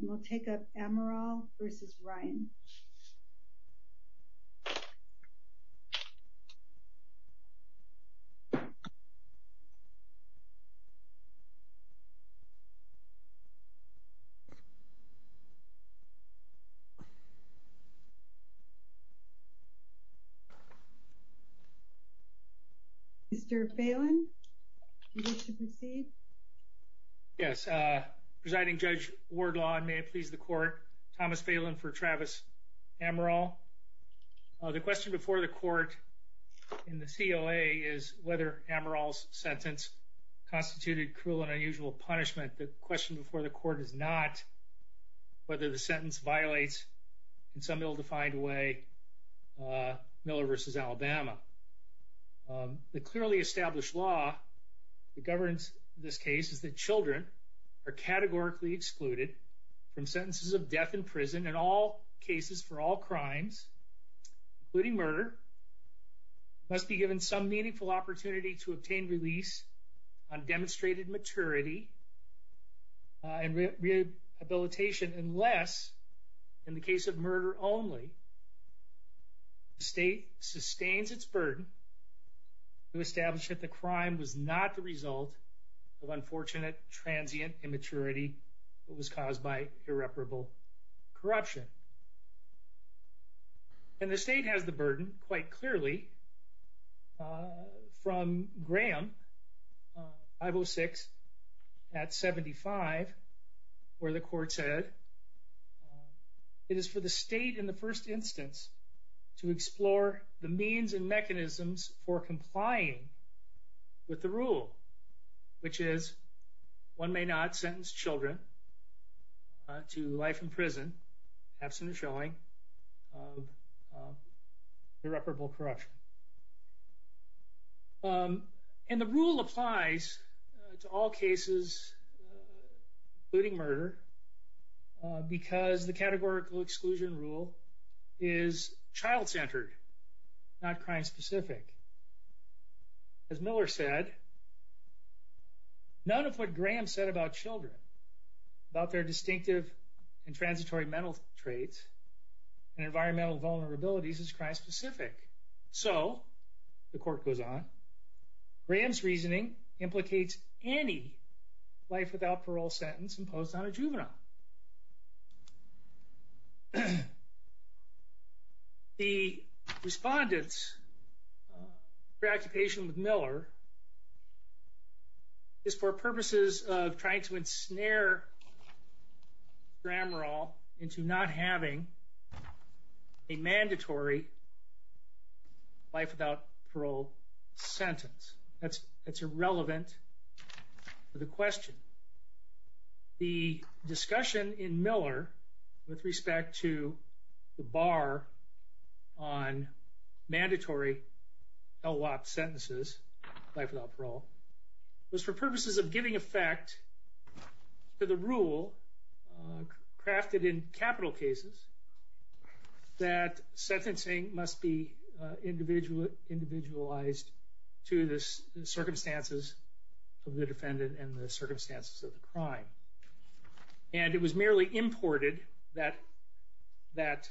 and we'll take up Amaral v. Ryan Mr. Phelan, do you wish to proceed? Yes, Presiding Judge Wardlaw and may it please the court, Thomas Phelan for Travis Amaral. The question before the court in the COA is whether Amaral's sentence constituted cruel and unusual punishment. The question before the court is not whether the sentence violates in some ill-defined way Miller v. Alabama. The clearly established law that governs this case is that children are categorically excluded from sentences of death in prison in all cases for all crimes, including murder. It must be given some meaningful opportunity to obtain release on demonstrated maturity and rehabilitation unless, in the case of murder only, the state sustains its burden to establish that the crime was not the result of unfortunate transient immaturity that was caused by irreparable corruption. And the state has the burden, quite clearly, from Graham 506 at 75 where the court said, It is for the state, in the first instance, to explore the means and mechanisms for complying with the rule, which is one may not sentence children to life in prison, absent of showing, of irreparable corruption. And the rule applies to all cases, including murder, because the categorical exclusion rule is child-centered, not crime-specific. As Miller said, none of what Graham said about children, about their distinctive and transitory mental traits and environmental vulnerabilities, is crime-specific. So, the court goes on, Graham's reasoning implicates any life-without-parole sentence imposed on a juvenile. The respondents' preoccupation with Miller is for purposes of trying to ensnare Grahamerall into not having a mandatory life-without-parole sentence. That's irrelevant to the question. The discussion in Miller with respect to the bar on mandatory LWOP sentences, life-without-parole, was for purposes of giving effect to the rule crafted in capital cases that sentencing must be individualized to the circumstances of the defendant and the circumstances of the crime. And it was merely imported, that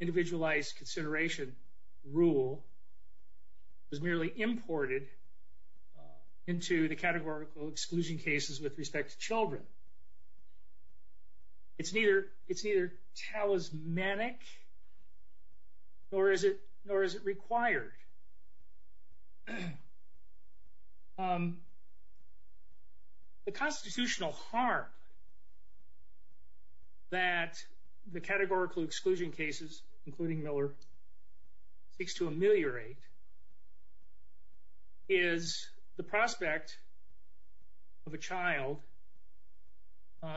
individualized consideration rule, was merely imported into the categorical exclusion cases with respect to children. It's neither talismanic, nor is it required. The constitutional harm that the categorical exclusion cases, including Miller, seeks to ameliorate is the prospect of a child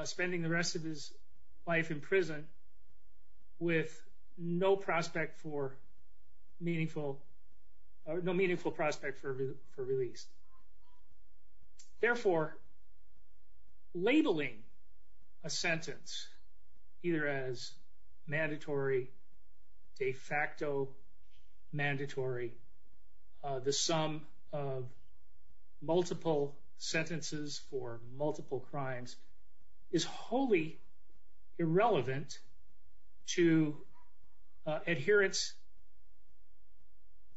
spending the rest of his life in prison with no prospect for meaningful, no meaningful prospect for release. Therefore, labeling a sentence either as mandatory, de facto mandatory, the sum of multiple sentences for multiple crimes, is wholly irrelevant to adherence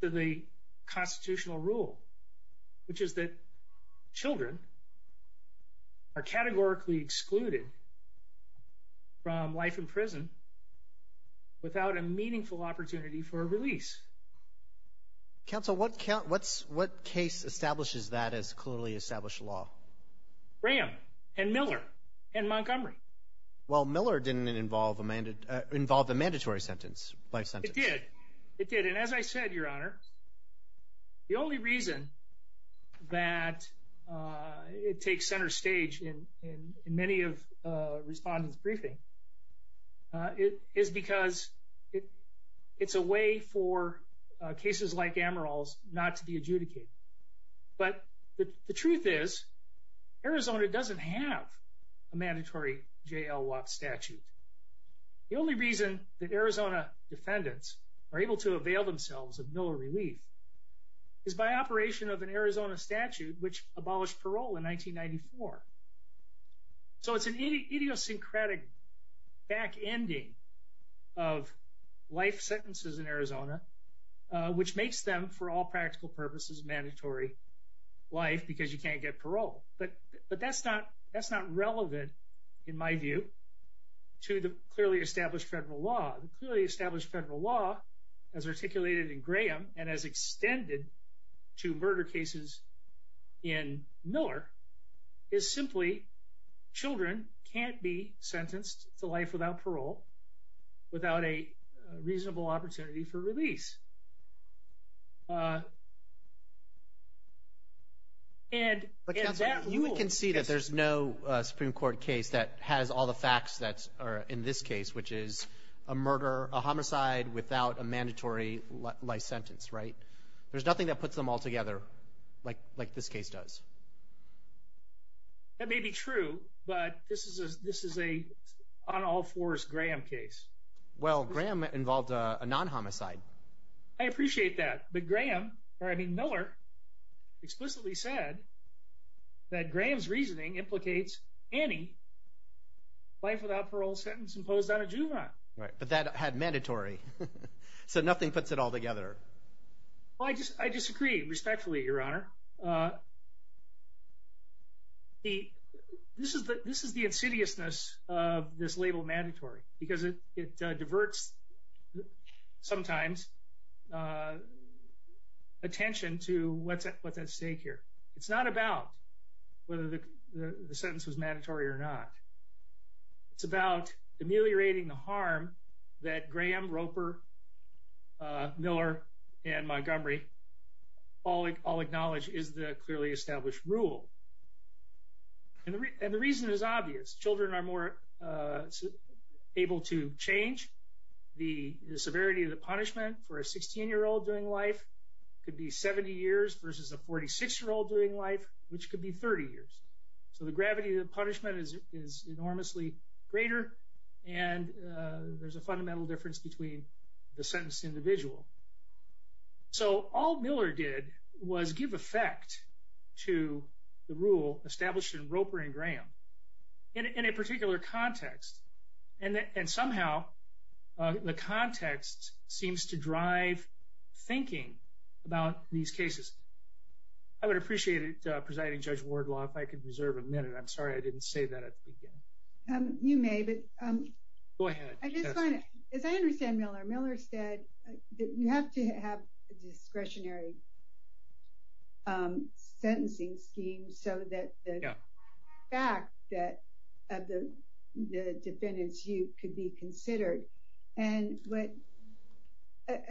to the constitutional rule, which is that children are categorically excluded from life in prison without a meaningful opportunity for a release. Counsel, what case establishes that as clearly established law? Graham and Miller and Montgomery. Well, Miller didn't involve a mandatory sentence, life sentence. It did. It did. And as I said, Your Honor, the only reason that it takes center stage in many of respondents' briefings is because it's a way for cases like Amaral's not to be adjudicated. But the truth is, Arizona doesn't have a mandatory J.L. Watt statute. The only reason that Arizona defendants are able to avail themselves of Miller relief is by operation of an Arizona statute, which abolished parole in 1994. So it's an idiosyncratic back-ending of life sentences in Arizona, which makes them, for all practical purposes, mandatory life because you can't get parole. But that's not relevant, in my view, to the clearly established federal law. The clearly established federal law, as articulated in Graham and as extended to murder cases in Miller, is simply children can't be sentenced to life without parole without a reasonable opportunity for release. But, Counselor, you can see that there's no Supreme Court case that has all the facts that are in this case, which is a murder, a homicide without a mandatory life sentence, right? There's nothing that puts them all together like this case does. That may be true, but this is an on-all-fours Graham case. Well, Graham involved a non-homicide. I appreciate that, but Graham – or, I mean, Miller explicitly said that Graham's reasoning implicates any life without parole sentence imposed on a juvenile. Right, but that had mandatory, so nothing puts it all together. Well, I disagree respectfully, Your Honor. Your Honor, this is the insidiousness of this label mandatory because it diverts sometimes attention to what's at stake here. It's not about whether the sentence was mandatory or not. It's about ameliorating the harm that Graham, Roper, Miller, and Montgomery all acknowledge is the clearly established rule. And the reason is obvious. Children are more able to change. The severity of the punishment for a 16-year-old doing life could be 70 years versus a 46-year-old doing life, which could be 30 years. So the gravity of the punishment is enormously greater, and there's a fundamental difference between the sentenced individual. So all Miller did was give effect to the rule established in Roper and Graham in a particular context, and somehow the context seems to drive thinking about these cases. I would appreciate it, Presiding Judge Wardlaw, if I could reserve a minute. I'm sorry I didn't say that at the beginning. You may, but as I understand Miller, Miller said that you have to have a discretionary sentencing scheme so that the fact that the defendant's youth could be considered.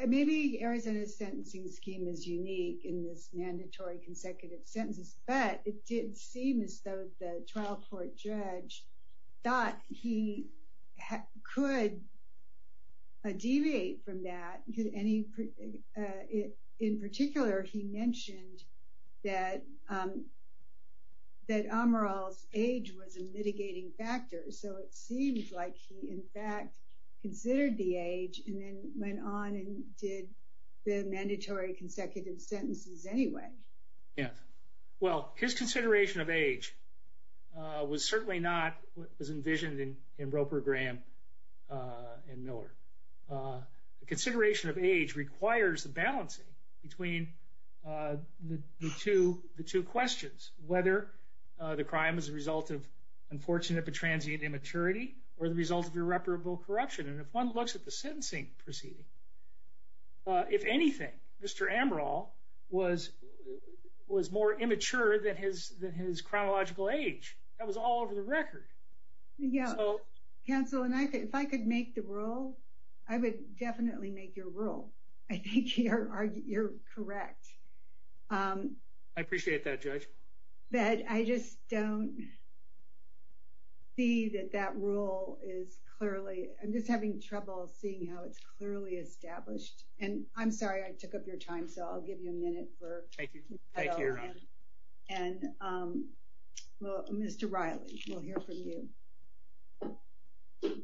Maybe Arizona's sentencing scheme is unique in this mandatory consecutive sentences, but it did seem as though the trial court judge thought he could deviate from that. In particular, he mentioned that Amaral's age was a mitigating factor, so it seems like he in fact considered the age and then went on and did the mandatory consecutive sentences anyway. Yes. Well, his consideration of age was certainly not what was envisioned in Roper, Graham, and Miller. The consideration of age requires the balancing between the two questions, whether the crime is the result of unfortunate but transient immaturity or the result of irreparable corruption. And if one looks at the sentencing proceeding, if anything, Mr. Amaral was more immature than his chronological age. That was all over the record. Counsel, if I could make the rule, I would definitely make your rule. I think you're correct. I appreciate that, Judge. But I just don't see that that rule is clearly, I'm just having trouble seeing how it's clearly established. And I'm sorry I took up your time, so I'll give you a minute. Thank you. And Mr. Riley, we'll hear from you.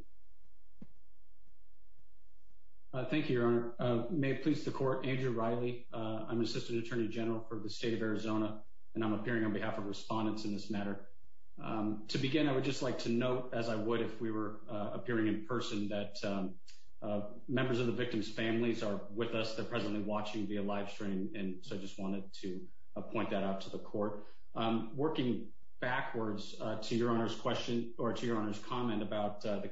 Thank you, Your Honor. May it please the Court, Andrew Riley. I'm Assistant Attorney General for the state of Arizona, and I'm appearing on behalf of respondents in this matter. To begin, I would just like to note, as I would if we were appearing in person, that members of the victim's families are with us. They're presently watching via live stream, and so I just wanted to point that out to the Court. Working backwards to Your Honor's question or to Your Honor's comment about the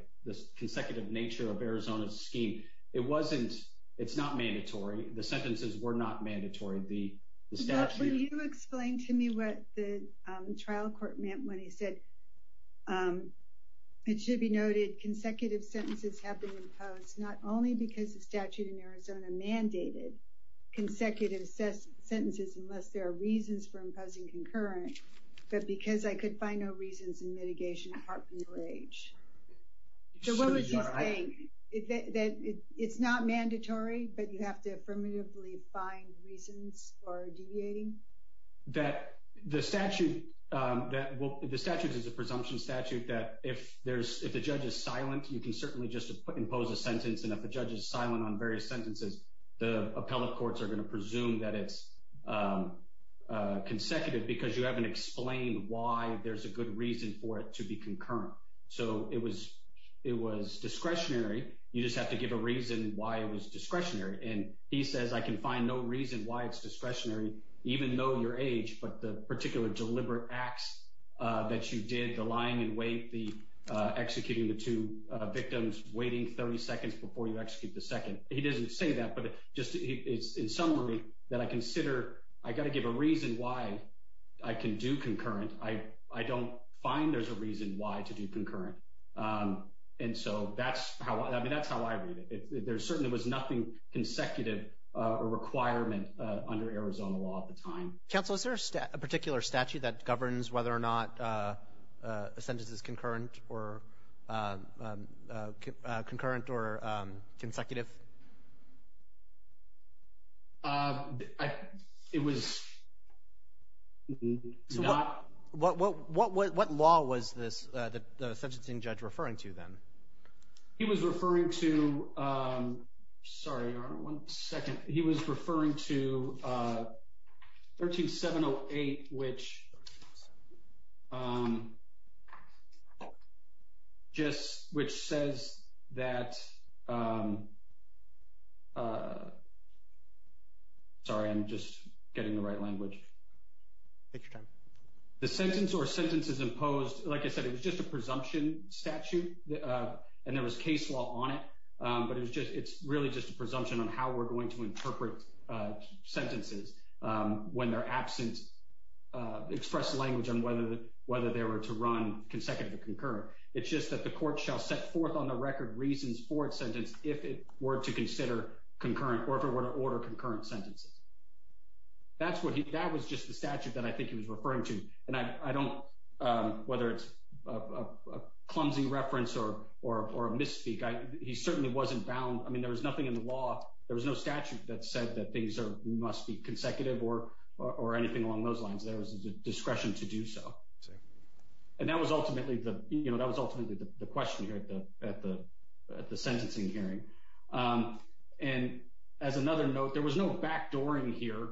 consecutive nature of Arizona's scheme, it wasn't – it's not mandatory. The sentences were not mandatory. Would you explain to me what the trial court meant when he said it should be noted consecutive sentences have been imposed, not only because the statute in Arizona mandated consecutive sentences unless there are reasons for imposing concurrent, but because I could find no reasons in mitigation apart from your age. So what was he saying? That it's not mandatory, but you have to affirmatively find reasons for deviating? That the statute – well, the statute is a presumption statute that if there's – if the judge is silent, you can certainly just impose a sentence, and if the judge is silent on various sentences, the appellate courts are going to presume that it's consecutive because you haven't explained why there's a good reason for it to be concurrent. So it was – it was discretionary. You just have to give a reason why it was discretionary, and he says I can find no reason why it's discretionary, even though your age, but the particular deliberate acts that you did, the lying in wait, the executing the two victims, waiting 30 seconds before you execute the second. He doesn't say that, but just – it's in summary that I consider I've got to give a reason why I can do concurrent. I don't find there's a reason why to do concurrent, and so that's how – I mean, that's how I read it. There certainly was nothing consecutive or requirement under Arizona law at the time. Counsel, is there a particular statute that governs whether or not a sentence is concurrent or consecutive? It was not. What law was this – the sentencing judge referring to then? He was referring to – sorry, one second. He was referring to 13708, which just – which says that – sorry, I'm just getting the right language. Take your time. The sentence or sentences imposed – like I said, it was just a presumption statute, and there was case law on it, but it was just – it's really just a presumption on how we're going to interpret sentences when they're absent, express language on whether they were to run consecutive or concurrent. It's just that the court shall set forth on the record reasons for its sentence if it were to consider concurrent or if it were to order concurrent sentences. That's what he – that was just the statute that I think he was referring to, and I don't – whether it's a clumsy reference or a misspeak, he certainly wasn't bound. I mean, there was nothing in the law – there was no statute that said that things must be consecutive or anything along those lines. There was a discretion to do so. And that was ultimately the – you know, that was ultimately the question here at the sentencing hearing. And as another note, there was no backdooring here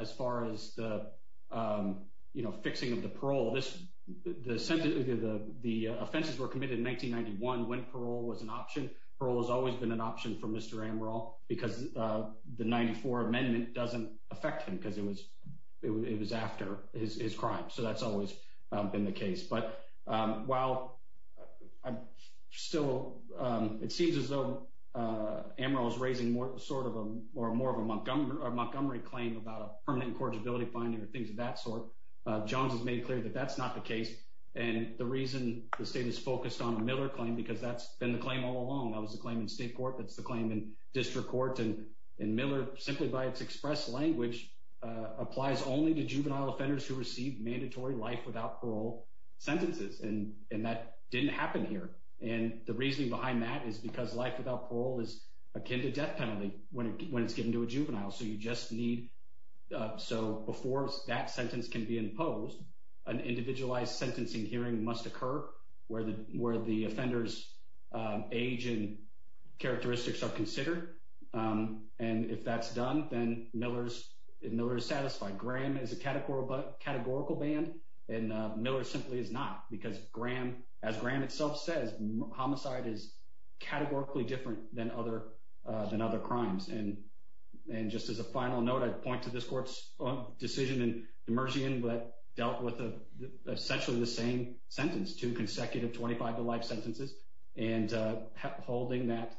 as far as the, you know, fixing of the parole. The sentences – the offenses were committed in 1991 when parole was an option. Parole has always been an option for Mr. Amaral because the 94 Amendment doesn't affect him because it was after his crime. So that's always been the case. But while I'm still – it seems as though Amaral is raising more sort of a – or more of a Montgomery claim about a permanent incorrigibility finding or things of that sort. Jones has made clear that that's not the case. And the reason the state is focused on the Miller claim because that's been the claim all along. That was the claim in state court. That's the claim in district court. And Miller, simply by its express language, applies only to juvenile offenders who receive mandatory life without parole sentences. And that didn't happen here. And the reasoning behind that is because life without parole is akin to death penalty when it's given to a juvenile. So you just need – so before that sentence can be imposed, an individualized sentencing hearing must occur where the offender's age and characteristics are considered. And if that's done, then Miller is satisfied. Graham is a categorical ban, and Miller simply is not because Graham, as Graham itself says, homicide is categorically different than other crimes. And just as a final note, I'd point to this court's decision in Demersian that dealt with essentially the same sentence, two consecutive 25-to-life sentences, and holding that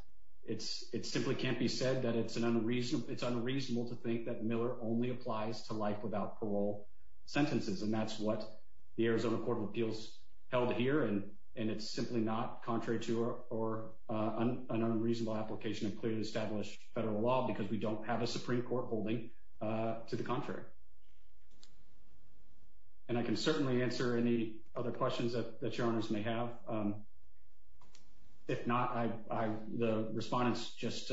it simply can't be said that it's unreasonable to think that Miller only applies to life without parole sentences. And that's what the Arizona Court of Appeals held here. And it's simply not contrary to or an unreasonable application of clearly established federal law because we don't have a Supreme Court holding to the contrary. And I can certainly answer any other questions that your Honors may have. If not, the respondents just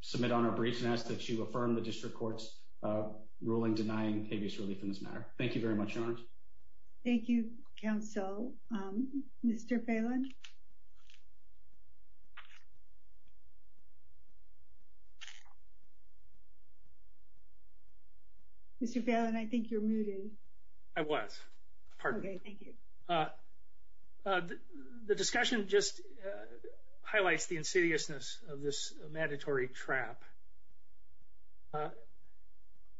submit on our briefs and ask that you affirm the district court's ruling denying habeas relief in this matter. Thank you very much, Your Honors. Thank you, Counsel. Mr. Phelan? Mr. Phelan, I think you're muted. I was. Pardon me. Okay, thank you. The discussion just highlights the insidiousness of this mandatory trap.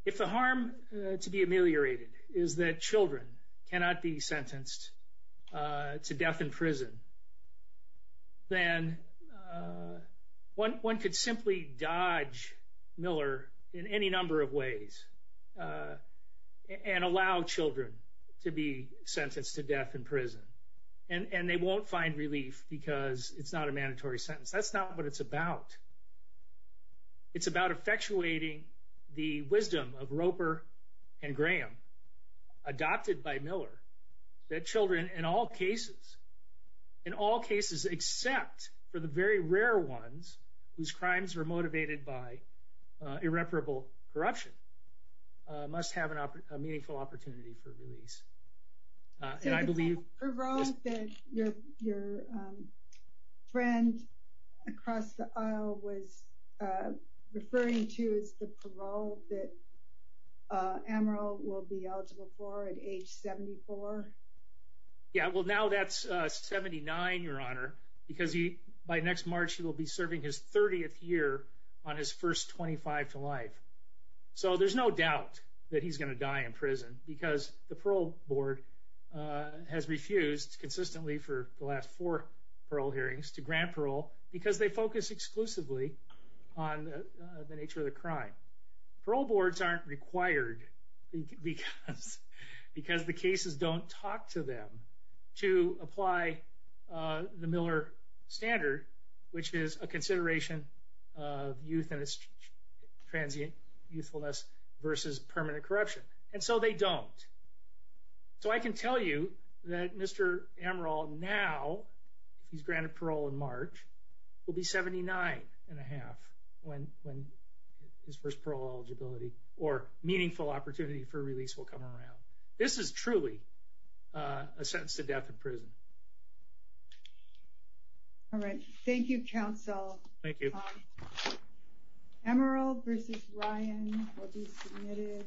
If the harm to be ameliorated is that children cannot be sentenced to death in prison, then one could simply dodge Miller in any number of ways and allow children to be sentenced to death in prison. And they won't find relief because it's not a mandatory sentence. That's not what it's about. It's about effectuating the wisdom of Roper and Graham, adopted by Miller, that children in all cases, in all cases except for the very rare ones whose crimes were motivated by irreparable corruption, must have a meaningful opportunity for release. The parole that your friend across the aisle was referring to is the parole that Amaral will be eligible for at age 74? Yeah, well, now that's 79, Your Honor, because by next March he will be serving his 30th year on his first 25 to life. So there's no doubt that he's going to die in prison, because the parole board has refused consistently for the last four parole hearings to grant parole because they focus exclusively on the nature of the crime. Parole boards aren't required because the cases don't talk to them to apply the Miller standard, which is a consideration of youth and its transient youthfulness versus permanent corruption. And so they don't. So I can tell you that Mr. Amaral now, if he's granted parole in March, will be 79 and a half when his first parole eligibility or meaningful opportunity for release will come around. All right. Thank you, counsel. Thank you. Amaral versus Ryan will be submitted.